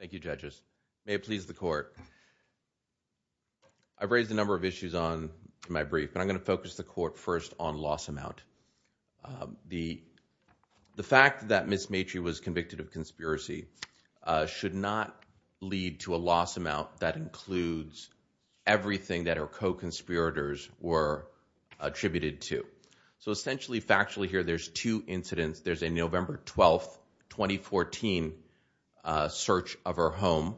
Thank you judges. May it please the court. I've raised a number of issues on my brief but I'm going to focus the court first on loss amount. The fact that Ms. Maitre was convicted of conspiracy should not lead to a loss amount that includes everything that her co-conspirators were attributed to. So essentially factually here there's two incidents. There's a November 12, 2014 search of her home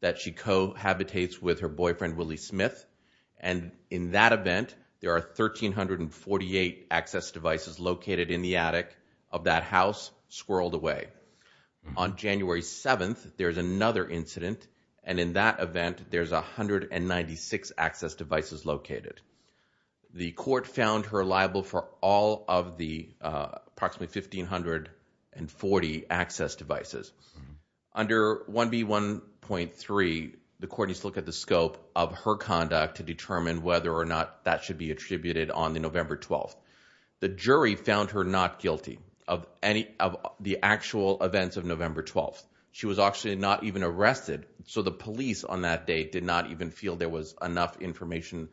that she cohabitates with her boyfriend Willie Smith and in that event there are 1,348 access devices located in the attic of that house squirreled away. On January 7th there's another incident and in that event there's 196 access devices located. The court found her liable for all of the approximately 1,540 access devices. Under 1B1.3 the court needs to look at the scope of her conduct to determine whether or not that should be attributed on the November 12th. The jury found her not guilty of any of the actual events of November 12th. She was actually not even arrested so the police on that date did not even feel there was enough information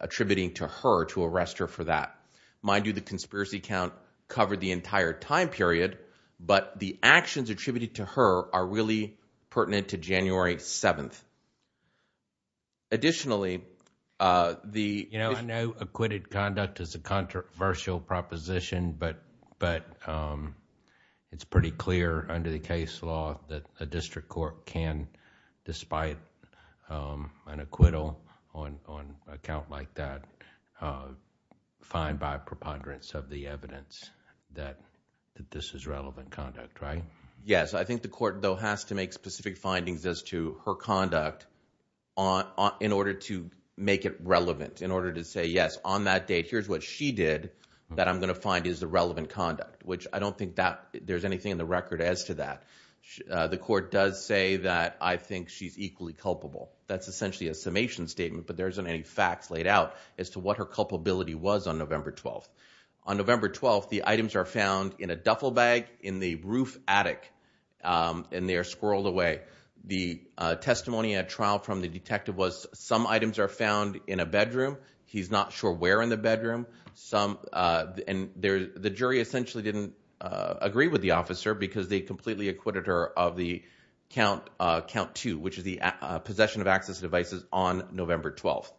attributing to her to arrest her for that. Mind you the conspiracy count covered the entire time period but the actions attributed to her are really pertinent to January 7th. Additionally uh the you know I know acquitted conduct is a controversial proposition but but um it's pretty clear under the case law that a district court can despite um an acquittal on on account like that uh find by preponderance of the evidence that that this is relevant conduct right? Yes I think the court though has to make specific findings as to her conduct on in order to make it relevant in order to say yes on that date here's what she did that I'm going to find is the relevant conduct which I don't think that there's anything in the record as to that. The court does say that I think she's equally culpable that's essentially a summation statement but there isn't any facts laid out as to what her culpability was on November 12th. On November 12th the items are found in a duffel bag in the roof attic and they are squirreled away. The testimony at trial from the detective was some items are found in a bedroom he's not sure where in the bedroom some uh and there the jury essentially didn't uh agree with the officer because they completely acquitted her of the count uh count two which is the possession of access devices on November 12th.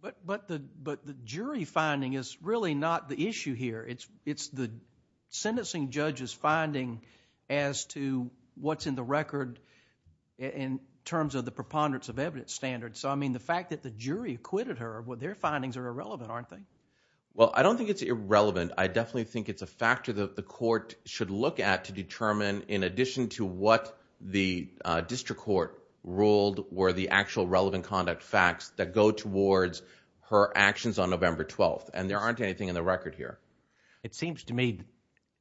But but the but the jury finding is really not the issue here it's it's the sentencing judge's finding as to what's in the record in terms of the preponderance of evidence standard so I mean the fact that the jury acquitted her what their findings are irrelevant aren't they? Well I don't think it's irrelevant I definitely think it's a factor that the court should look at to determine in addition to what the district court ruled were the actual relevant conduct facts that go towards her actions on November 12th and there aren't anything in the record here. It seems to me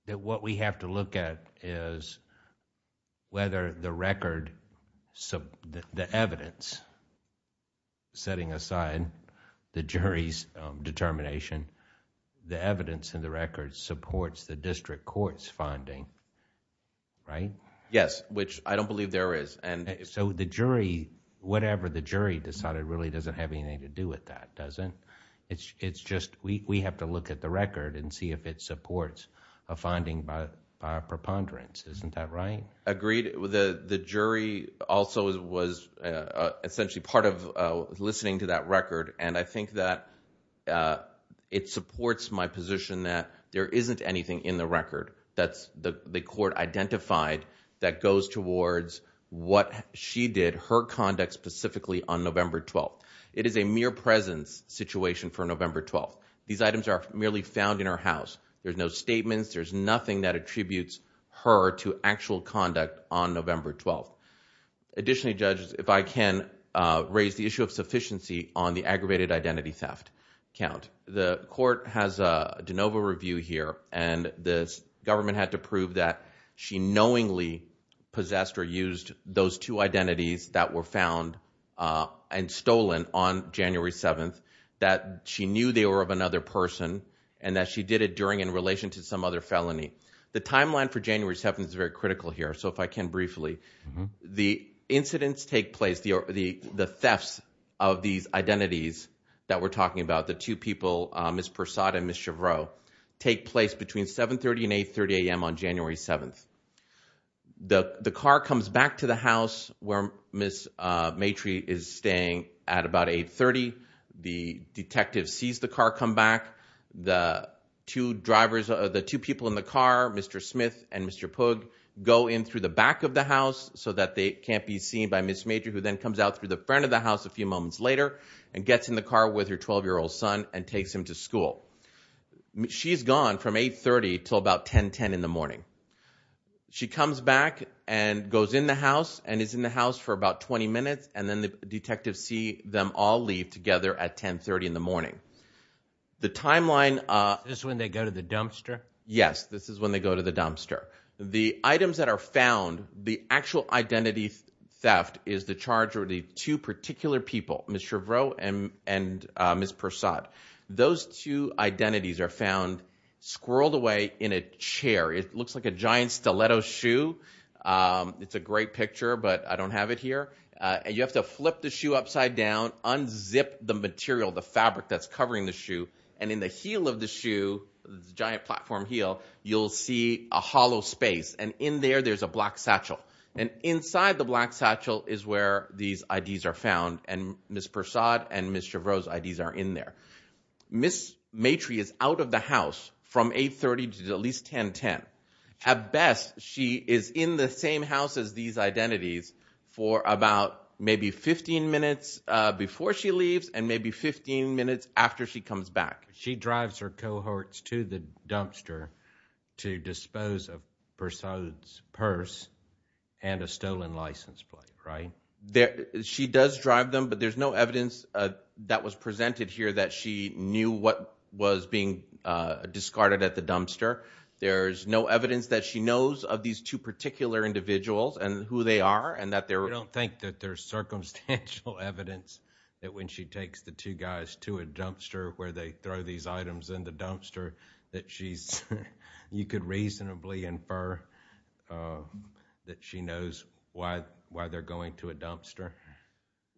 that what we have to look at is whether the supports the district court's finding right? Yes which I don't believe there is and so the jury whatever the jury decided really doesn't have anything to do with that doesn't it's it's just we we have to look at the record and see if it supports a finding by our preponderance isn't that right? Agreed with the the jury also was essentially part of uh listening to that record and I think that uh it supports my position that there isn't anything in the record that's the court identified that goes towards what she did her conduct specifically on November 12th. It is a mere presence situation for November 12th these items are merely found in her house there's no statements there's nothing that attributes her to actual conduct on November 12th. Additionally judges if I can uh raise the issue of sufficiency on the aggravated identity theft count the court has a de novo review here and this government had to prove that she knowingly possessed or used those two identities that were found uh and stolen on January 7th that she knew they were of another person and that she did it during in relation to some other felony. The timeline for January 7th is very critical here so if I can briefly the incidents take place the the the thefts of these identities that we're talking about the two people uh Ms. Persaud and Ms. Chevreaux take place between 7 30 and 8 30 a.m on January 7th. The the car comes back to the house where Ms. uh Maitrey is staying at about 8 30 the detective sees the car come back the two drivers of the two people in the car Mr. Smith and Mr. Pug go in through the back of the house so that they can't be seen by Ms. Maitrey who then comes out through the front of the house a few moments later and gets in the car with her 12 year old son and takes him to school. She's gone from 8 30 till about 10 10 in the morning she comes back and goes in the house and is in the house for about 20 minutes and then the detectives see them all leave together at 10 30 in the morning. The timeline uh this is when they dumpster. The items that are found the actual identity theft is the charge or the two particular people Ms. Chevreaux and Ms. Persaud. Those two identities are found squirreled away in a chair it looks like a giant stiletto shoe um it's a great picture but I don't have it here uh you have to flip the shoe upside down unzip the material the fabric that's covering the shoe and in the heel of the shoe the giant platform heel you'll see a hollow space and in there there's a black satchel and inside the black satchel is where these IDs are found and Ms. Persaud and Ms. Chevreaux's IDs are in there. Ms. Maitrey is out of the house from 8 30 to at least 10 10. At best she is in the same house as these identities for about maybe 15 minutes uh before she leaves and maybe 15 minutes after she comes back. She drives her cohorts to the dumpster to dispose of Persaud's purse and a stolen license plate right there she does drive them but there's no evidence uh that was presented here that she knew what was being uh discarded at the dumpster. There's no evidence that she knows of these two particular individuals and who they are and that don't think that there's circumstantial evidence that when she takes the two guys to a dumpster where they throw these items in the dumpster that she's you could reasonably infer uh that she knows why why they're going to a dumpster.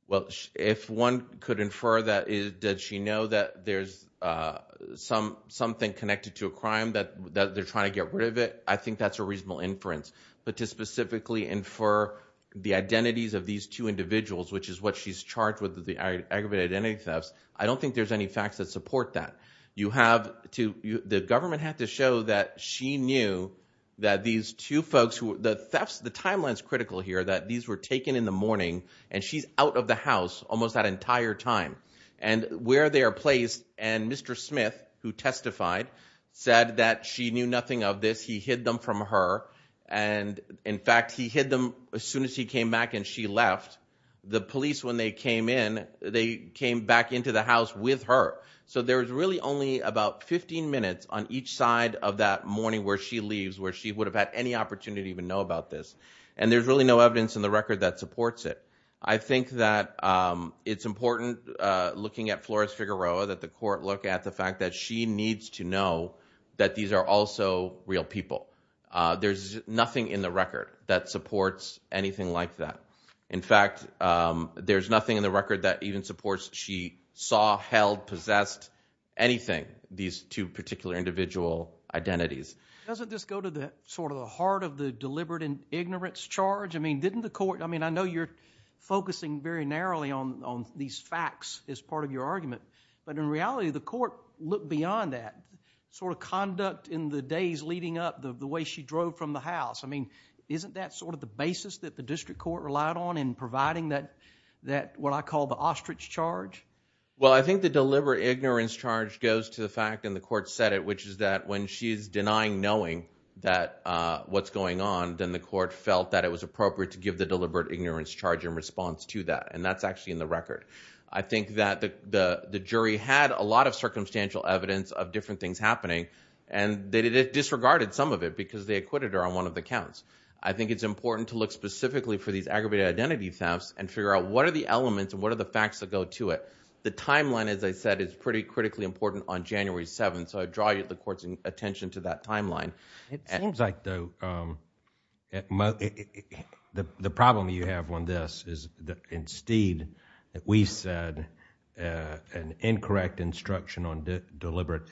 Well if one could infer that is did she know that there's uh some something connected to a crime that that they're trying to get rid of it I think that's reasonable inference but to specifically infer the identities of these two individuals which is what she's charged with the aggravated identity thefts I don't think there's any facts that support that you have to the government had to show that she knew that these two folks who the thefts the timeline is critical here that these were taken in the morning and she's out of the house almost that entire time and where they are placed and Mr. Smith who testified said that she knew nothing of this he hid them from her and in fact he hid them as soon as he came back and she left the police when they came in they came back into the house with her so there's really only about 15 minutes on each side of that morning where she leaves where she would have had any opportunity to even know about this and there's really no evidence in the record that supports it I think that um it's important uh looking at Flores Figueroa that the court look at the fact that she needs to know that these are also real people uh there's nothing in the record that supports anything like that in fact um there's nothing in the record that even supports she saw held possessed anything these two particular individual identities doesn't this go to the sort of the heart of the deliberate and ignorance charge I mean didn't the court I mean I know you're focusing very narrowly on on these facts as part of your argument but in reality the court beyond that sort of conduct in the days leading up the way she drove from the house I mean isn't that sort of the basis that the district court relied on in providing that that what I call the ostrich charge well I think the deliberate ignorance charge goes to the fact and the court said it which is that when she's denying knowing that uh what's going on then the court felt that it was appropriate to give the deliberate ignorance charge in response to that and that's actually in the record I think that the the jury had a lot of circumstantial evidence of different things happening and they disregarded some of it because they acquitted her on one of the counts I think it's important to look specifically for these aggravated identity thefts and figure out what are the elements and what are the facts that go to it the timeline as I said is pretty critically important on January 7th so I draw the court's attention to that timeline it seems like though um at most the the problem you have on this is that instead that we said uh an incorrect instruction on deliberate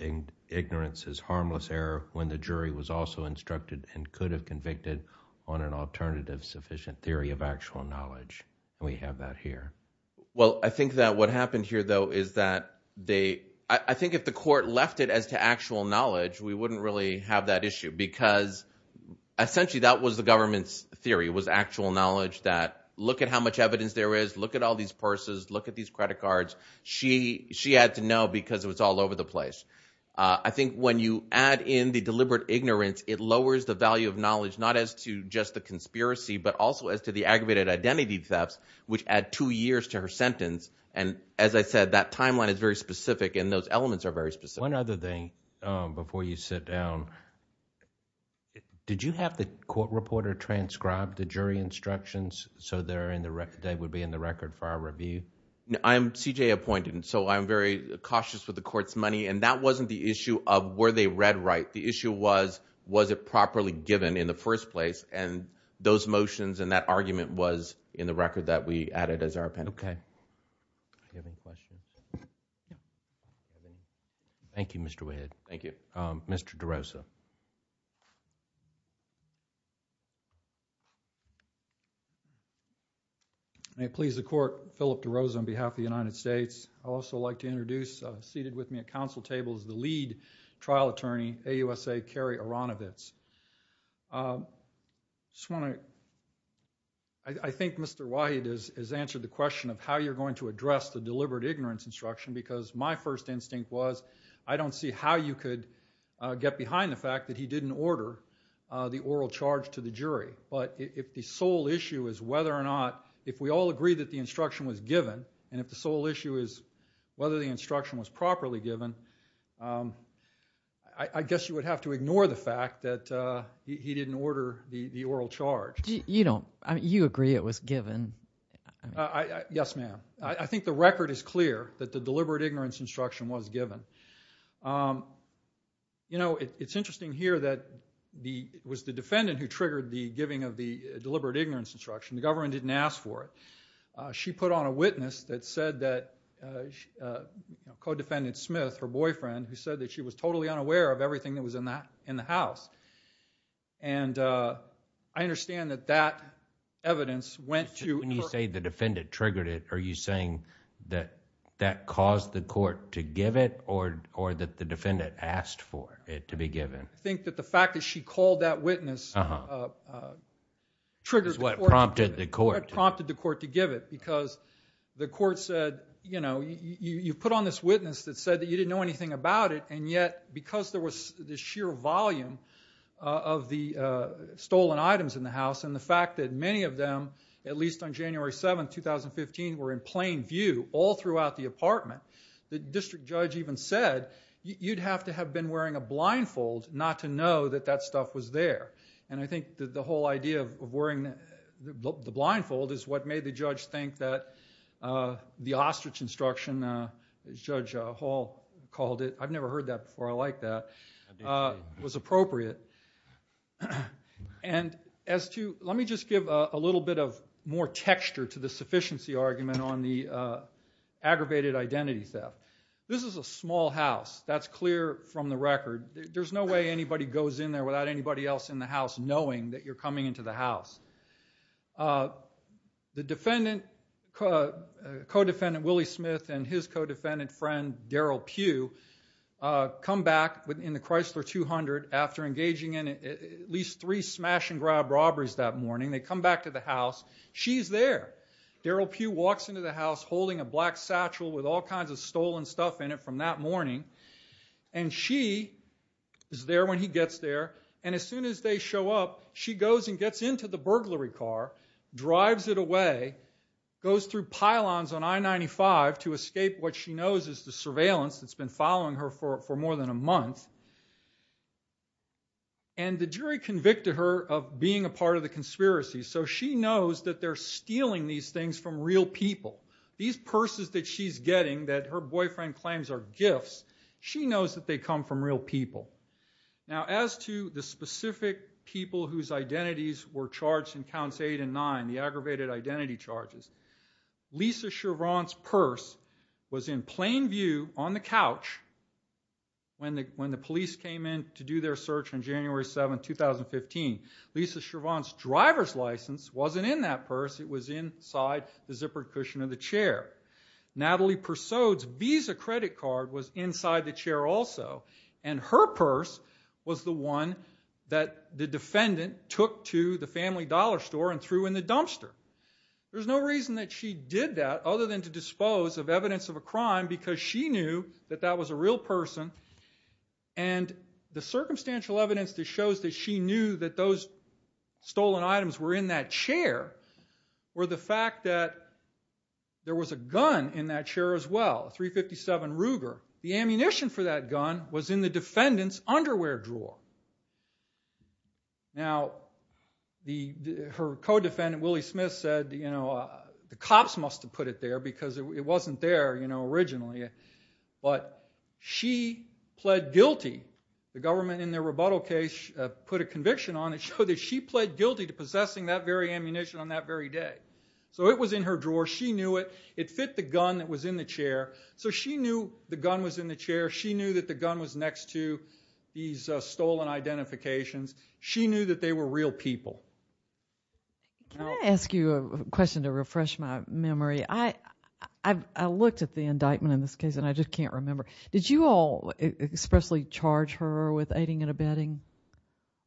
ignorance is harmless error when the jury was also instructed and could have convicted on an alternative sufficient theory of actual knowledge and we have that here well I think that what happened here though is that they I think if the court left it as to actual knowledge we wouldn't really have that issue because essentially that was the government's theory was actual knowledge that look at how much evidence there is look at all these purses look at these credit cards she she had to know because it was all over the place I think when you add in the deliberate ignorance it lowers the value of knowledge not as to just the conspiracy but also as to the aggravated identity thefts which add two years to her sentence and as I said that timeline is very specific and those elements are very specific one other thing um before you sit down did you have the court reporter transcribe the jury instructions so they're in the record they would be in the record for our review I'm CJ appointed and so I'm very cautious with the court's money and that wasn't the issue of were they read right the issue was was it properly given in the first place and those motions and that argument was in the record that we added as our pen okay I have any questions thank you Mr. Wade thank you um Mr. DeRosa may it please the court Philip DeRosa on behalf of the United States I'd also like to introduce seated with me at council table is the lead trial attorney AUSA Kerry Aronovitz um just want to I think Mr. White has answered the question of how you're going to address the deliberate ignorance instruction because my first instinct was I don't see how you could get behind the fact that he didn't order uh the oral charge to the jury but if the sole issue is whether or not if we all agree that the instruction was given and if the sole issue is whether the instruction was properly given um I guess you would have to ignore the fact that he didn't order the the oral charge you don't I mean you agree it was given yes ma'am I think the record is clear that the deliberate ignorance instruction was given you know it's interesting here that the was the defendant who triggered the giving of the deliberate ignorance instruction the government didn't ask for it she put on a witness that said that uh co-defendant smith her boyfriend who said that she was totally unaware of everything that was in that in the house and uh I understand that that evidence went to when you say the defendant triggered it are you saying that that caused the court to give it or or that the defendant asked for it to be given I think that the fact that she called that witness uh triggered what prompted the court prompted the court to give it because the court said you know you you put on this witness that said that you didn't know anything about it and yet because there was this sheer volume of the uh stolen items in the house and the fact that many of them at least on January 7, 2015 were in plain view all throughout the apartment the district judge even said you'd have to have been wearing a blindfold not to know that that stuff was there and I think that the whole idea of wearing the blindfold is what made the judge think that uh the ostrich instruction uh as judge hall called it I've never heard that before I like that was appropriate and as to let me just give a little bit of more texture to the sufficiency argument on the uh aggravated identity theft this is a small house that's clear from the record there's no way anybody goes in there without anybody else in the house knowing that you're coming into the house uh the defendant co-defendant Willie Smith and his co-defendant friend Daryl Pugh come back within the Chrysler 200 after engaging in at least three smash and grab robberies that morning they come back to the house she's there Daryl Pugh walks into the house holding a black morning and she is there when he gets there and as soon as they show up she goes and gets into the burglary car drives it away goes through pylons on I-95 to escape what she knows is the surveillance that's been following her for for more than a month and the jury convicted her of being a part of the conspiracy so she knows that they're stealing these things from real people these purses that she's getting that her boyfriend claims are gifts she knows that they come from real people now as to the specific people whose identities were charged in counts eight and nine the aggravated identity charges Lisa Chevron's purse was in plain view on the couch when the when the police came in to do their search on January 7 2015 Lisa Chevron's driver's license wasn't in that purse it was inside the zippered cushion of the chair Natalie Persaud's visa credit card was inside the chair also and her purse was the one that the defendant took to the family dollar store and threw in the dumpster there's no reason that she did that other than to dispose of evidence of a crime because she knew that that was a real person and the circumstantial evidence that shows that she knew that those stolen items were in that chair were the fact that there was a gun in that chair as well 357 Ruger the ammunition for that gun was in the defendant's underwear drawer now the her co-defendant Willie Smith said you know the cops must have put it there because it wasn't there you know originally but she pled guilty the government in their rebuttal case put a conviction on it showed that she pled guilty to possessing that very ammunition on that very day so it was in her drawer she knew it it fit the gun that was in the chair so she knew the gun was in the chair she knew that the gun was next to these stolen identifications she knew that they were real people can I ask you a question to refresh my memory I I've I looked at the indictment in this case and I just can't remember did you all expressly charge her with aiding and abetting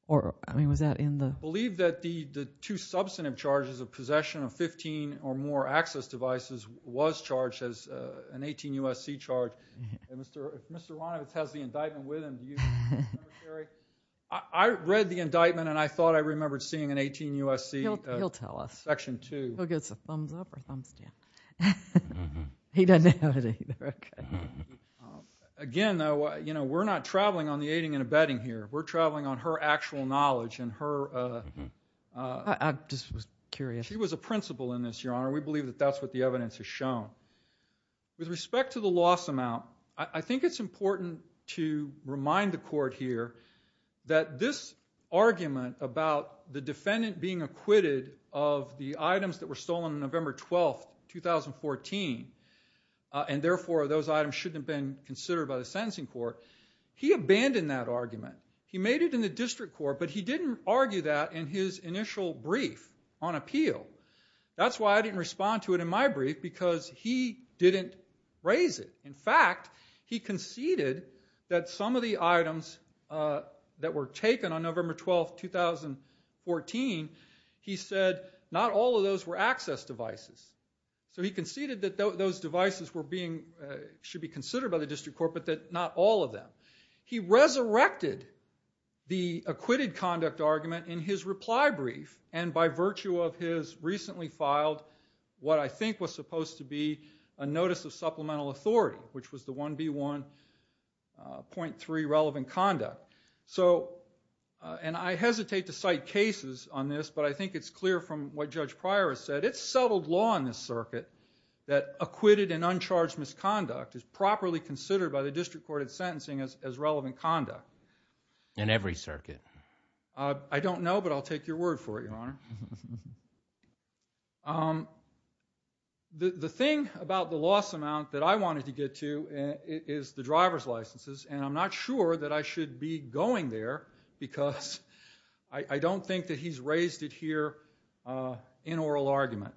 or I mean was that in the believe that the the two substantive charges of possession of 15 or more access devices was charged as an 18 USC charge and Mr. Mr. Ronovitz has the indictment with him you I read the indictment and I thought I remembered seeing an 18 USC he'll tell us section two he'll get some thumbs up or thumbs down he doesn't have it either okay again though you know we're not traveling on the aiding and abetting here we're traveling on her actual knowledge and her uh I just was curious she was a principal in this your honor we believe that that's what the evidence has shown with respect to the loss amount I think it's important to remind the court here that this argument about the defendant being acquitted of the items that were stolen November 12 2014 and therefore those items shouldn't have been considered by the sentencing court he abandoned that argument he made it in the district court but he didn't argue that in his initial brief on appeal that's why I didn't respond to it in my brief because he didn't raise it in fact he conceded that some of the items uh that were taken on November 12 2014 he said not all of those were access devices so he conceded that those devices were being should be considered by the district court but that not all of them he resurrected the acquitted conduct argument in his reply brief and by virtue of his recently filed what I think was supposed to be a notice of supplemental authority which was the 1b 1.3 relevant conduct so and I hesitate to cite cases on this but I think it's clear from what Judge Pryor has said it's settled law in this circuit that acquitted and uncharged misconduct is properly considered by the district court of sentencing as as relevant conduct in every circuit I don't know but I'll take your word for it your honor um the the thing about the loss amount that I wanted to get to is the driver's licenses and I'm not sure that I should be going there because I don't think that he's raised it here in oral argument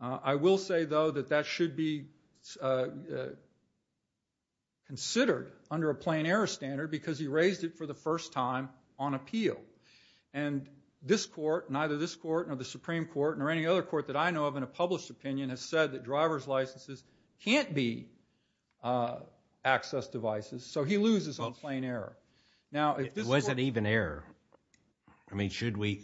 I will say though that that should be considered under a plain error standard because he raised it for the first time on appeal and this court neither this court nor the supreme court nor any other court that I know of in a uh access devices so he loses on plain error now was it even error I mean should we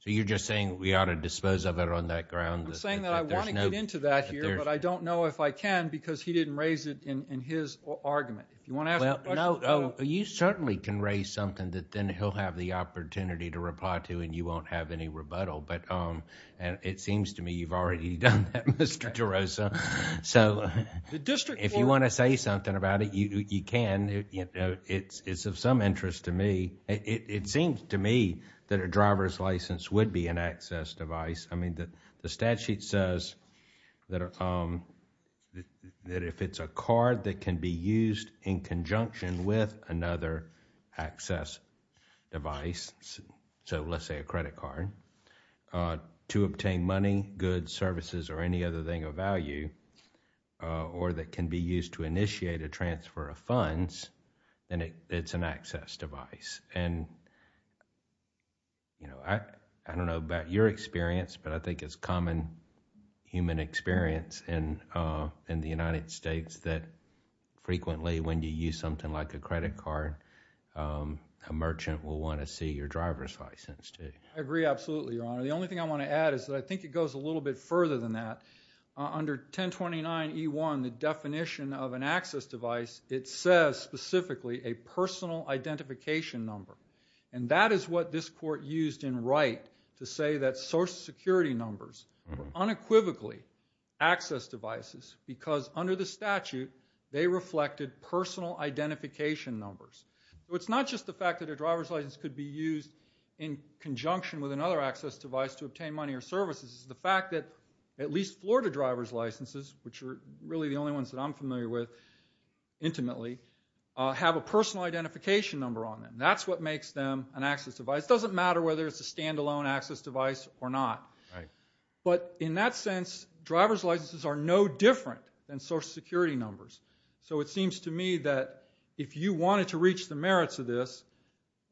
so you're just saying we ought to dispose of it on that ground I'm saying that I want to get into that here but I don't know if I can because he didn't raise it in in his argument if you want to ask no no you certainly can raise something that then he'll have the opportunity to reply to and you won't have any rebuttal but um and it seems to me you've already done that Mr. DeRosa so the district if you want to say something about it you you can you know it's it's of some interest to me it seems to me that a driver's license would be an access device I mean that the statute says that um that if it's a card that can be used in conjunction with another access device so let's say a credit card to obtain money goods services or any other thing of value or that can be used to initiate a transfer of funds then it's an access device and you know I I don't know about your experience but I think it's common human experience in uh in the United States that frequently when you use something like a credit card um a merchant will want to see your driver's license too I agree absolutely your honor the only thing I want to add is that I think it goes a little bit further than that under 1029e1 the definition of an access device it says specifically a personal identification number and that is what this court used in Wright to say that social security numbers were unequivocally access devices because under the statute they reflected personal identification numbers so it's not just the fact that a driver's license could be used in conjunction with another access device to obtain money or services the fact that at least Florida driver's licenses which are really the only ones that I'm familiar with intimately have a personal identification number on them that's what makes them an access device doesn't matter whether it's a standalone access device or not right but in that sense driver's licenses are no different than social security numbers so it seems to me that if you wanted to reach the merits of this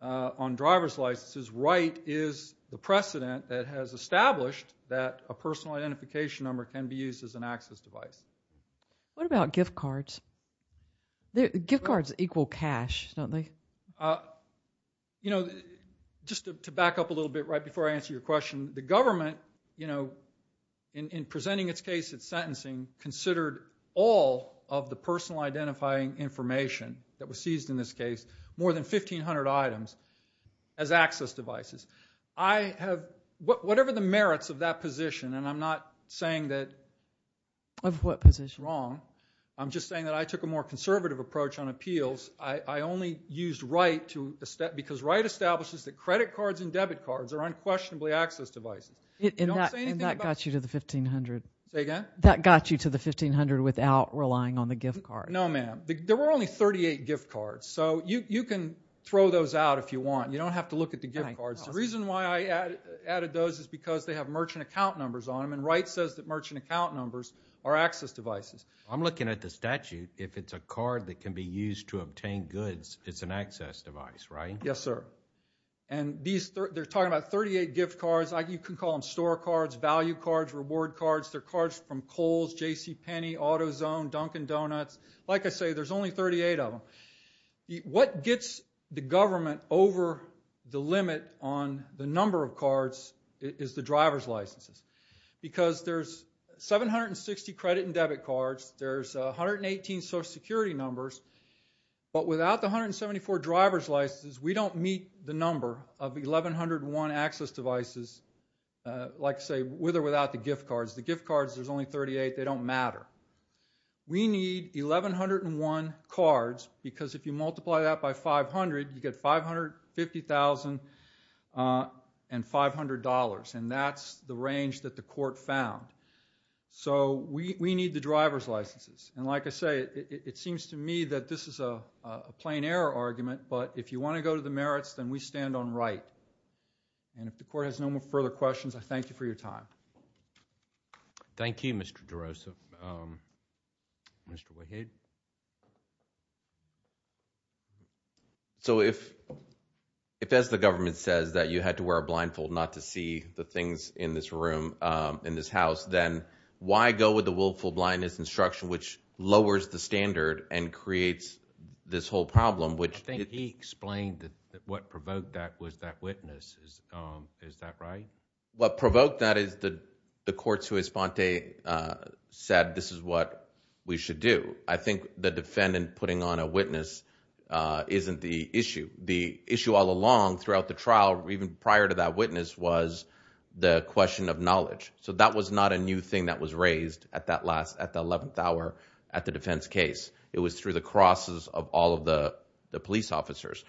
on driver's licenses Wright is the precedent that has established that a personal identification number can be used as an access device what about gift cards gift cards equal cash don't they uh you know just to back up a little bit right before I answer your question the government you know in in presenting its case at sentencing considered all of the personal identifying information that was seized in this case more than 1500 items as access devices I have whatever the merits of that position and I'm not saying that of what position wrong I'm just saying that I took a more conservative approach on appeals I I only used right to a step because right establishes that credit cards and debit cards are unquestionably access devices and that got you to the 1500 say again that got you to the 1500 without relying on the gift card no ma'am there were only 38 gift cards so you you can throw those out if you want you don't have to look at the gift cards the reason why I added those is because they have merchant account numbers on Wright says that merchant account numbers are access devices I'm looking at the statute if it's a card that can be used to obtain goods it's an access device right yes sir and these they're talking about 38 gift cards like you can call them store cards value cards reward cards they're cards from Kohl's JCPenney AutoZone Dunkin Donuts like I say there's only 38 of them what gets the government over the limit on the number of cards is the driver's licenses because there's 760 credit and debit cards there's 118 social security numbers but without the 174 driver's licenses we don't meet the number of 1101 access devices like say with or without the gift cards the gift cards there's only 38 they don't matter we need 1101 cards because if you multiply that by 500 you get 550,000 and $500 and that's the range that the court found so we we need the driver's licenses and like I say it seems to me that this is a a plain error argument but if you want to go to the merits then we stand on right and if the court has no more further questions thank you for your time thank you Mr. DeRosa um Mr. Wahid so if if as the government says that you had to wear a blindfold not to see the things in this room um in this house then why go with the willful blindness instruction which lowers the standard and creates this whole problem which I think he explained that what provoked that was that witness is um is that right what provoked that is the the courts who respond said this is what we should do I think the defendant putting on a witness uh isn't the issue the issue all along throughout the trial even prior to that witness was the question of knowledge so that was not a new thing that was raised at that last at the 11th hour at the defense case it was through the crosses of all of the the police officers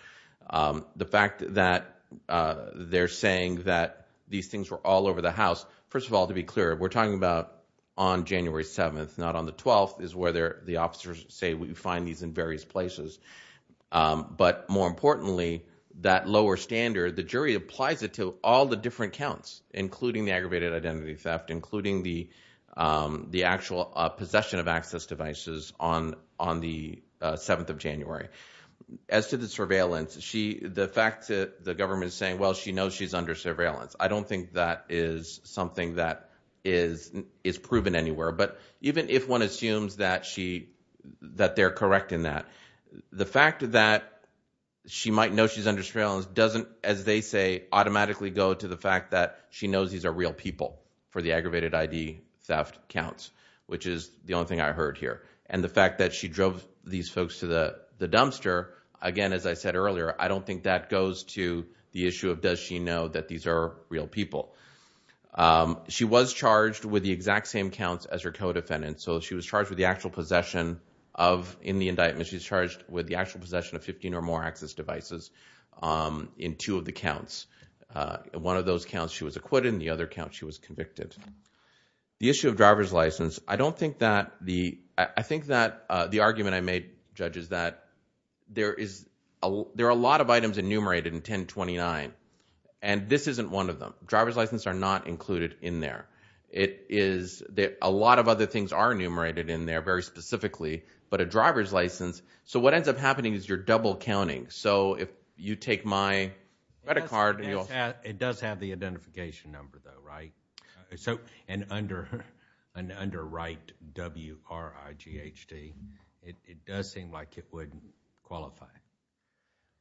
um the fact that uh they're saying that these things were all over the house first of all to be clear we're talking about on January 7th not on the 12th is where they're the officers say we find these in various places um but more importantly that lower standard the jury applies it to all the different counts including the aggravated identity theft including the um the actual uh possession of access devices on on the uh 7th of January as to the surveillance she the fact that the government is saying well she knows she's under surveillance I don't think that is something that is is proven anywhere but even if one assumes that she that they're correct in that the fact that she might know she's under surveillance doesn't as they say automatically go to the fact that she knows these are real people for the aggravated id theft counts which is the only thing I heard here and the fact that she drove these folks to the the dumpster again as I said earlier I don't think that goes to the issue of does she know that these are real people um she was charged with the exact same counts as her co-defendant so she was charged with the actual possession of in the indictment she's charged with the actual possession of 15 or more access devices um in two of the counts uh one of those counts she was acquitted in the other count she was convicted the issue of driver's license I don't think that the I think that uh the argument I made judges that there is a there are a lot of items enumerated in 1029 and this isn't one of them driver's license are not included in there it is that a lot of other things are enumerated in there very specifically but a driver's license so what ends up happening is you're double counting so if you take my credit card and you'll have it does have the identification number though right so and under an underwrite w r i g h d it does seem like it wouldn't qualify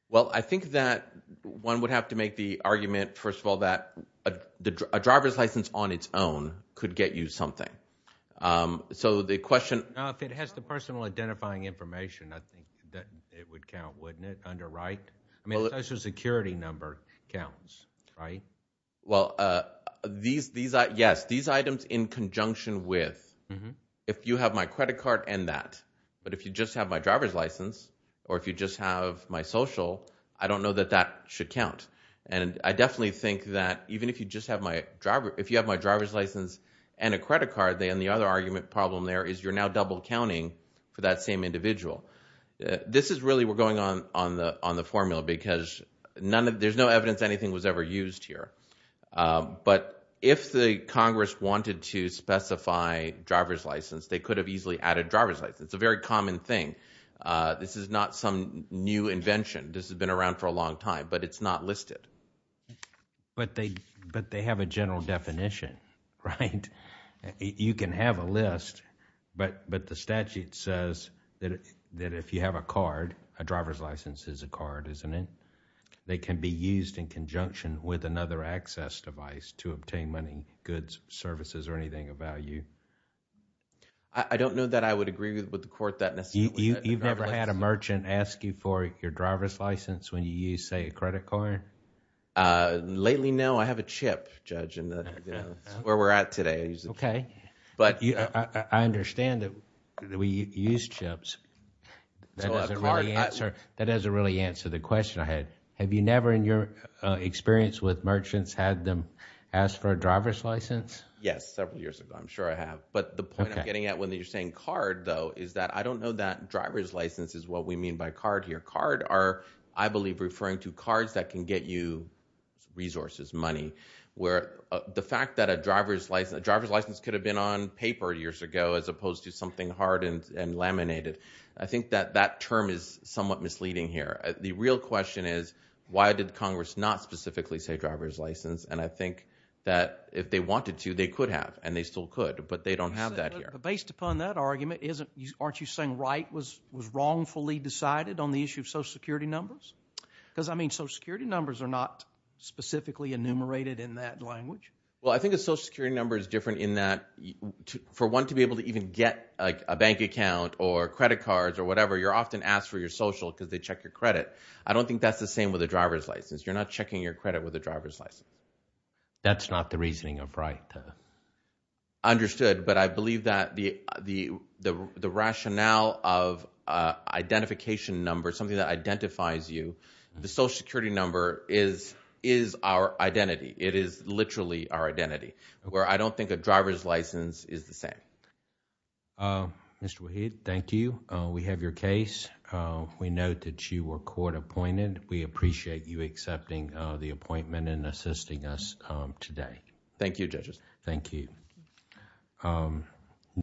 well I think that one would have to make the argument first of all that the driver's license on its own could get you something um so the question if it has the personal identifying information I think that it would count wouldn't it underwrite I mean social security number counts right well uh these these are yes these items in conjunction with if you have my credit card and that but if you just have my driver's license or if you just have my social I don't know that that should count and I definitely think that even if you just have my driver if you have my driver's license and a credit card then the other argument problem there is you're now double counting for that same individual this is really we're going on on the on the formula because none of there's no evidence anything was ever used here but if the congress wanted to specify driver's license they could have easily added driver's license it's a very common thing this is not some new invention this has been around for a long time but it's not listed but they but they have a general definition right you can have a list but but the statute says that that if you have a card a driver's license is a card isn't it they can be used in conjunction with another access device to obtain money goods services or anything of value I don't know that I would agree with the court that necessarily you've never had a merchant ask you for your driver's license when you use say a credit card uh lately no I have a chip judge and that's where we're at today okay but I understand that we use chips that doesn't really answer that doesn't really answer the question I had have you never in your experience with merchants had them ask for a driver's license yes several years ago I'm sure I have but the point I'm getting at when you're saying card though is that I don't know that driver's license is what we mean by card here card are I believe referring to cards that can get you resources money where the fact that a driver's license driver's license could have been on paper years ago as opposed to something hardened and laminated I think that that term is somewhat misleading here the real question is why did congress not specifically say driver's license and I think that if they wanted to they could have and they still could but they don't have that here based upon that argument isn't aren't you saying right was was wrongfully decided on the issue of security numbers because I mean social security numbers are not specifically enumerated in that language well I think a social security number is different in that for one to be able to even get like a bank account or credit cards or whatever you're often asked for your social because they check your credit I don't think that's the same with a driver's license you're not checking your credit with a driver's license that's not the reasoning of right understood but I believe that the the the rationale of identification number something that identifies you the social security number is is our identity it is literally our identity where I don't think a driver's license is the same Mr. Waheed thank you we have your case we note that you were court appointed we appreciate you accepting the appointment and assisting us today thank you judges thank you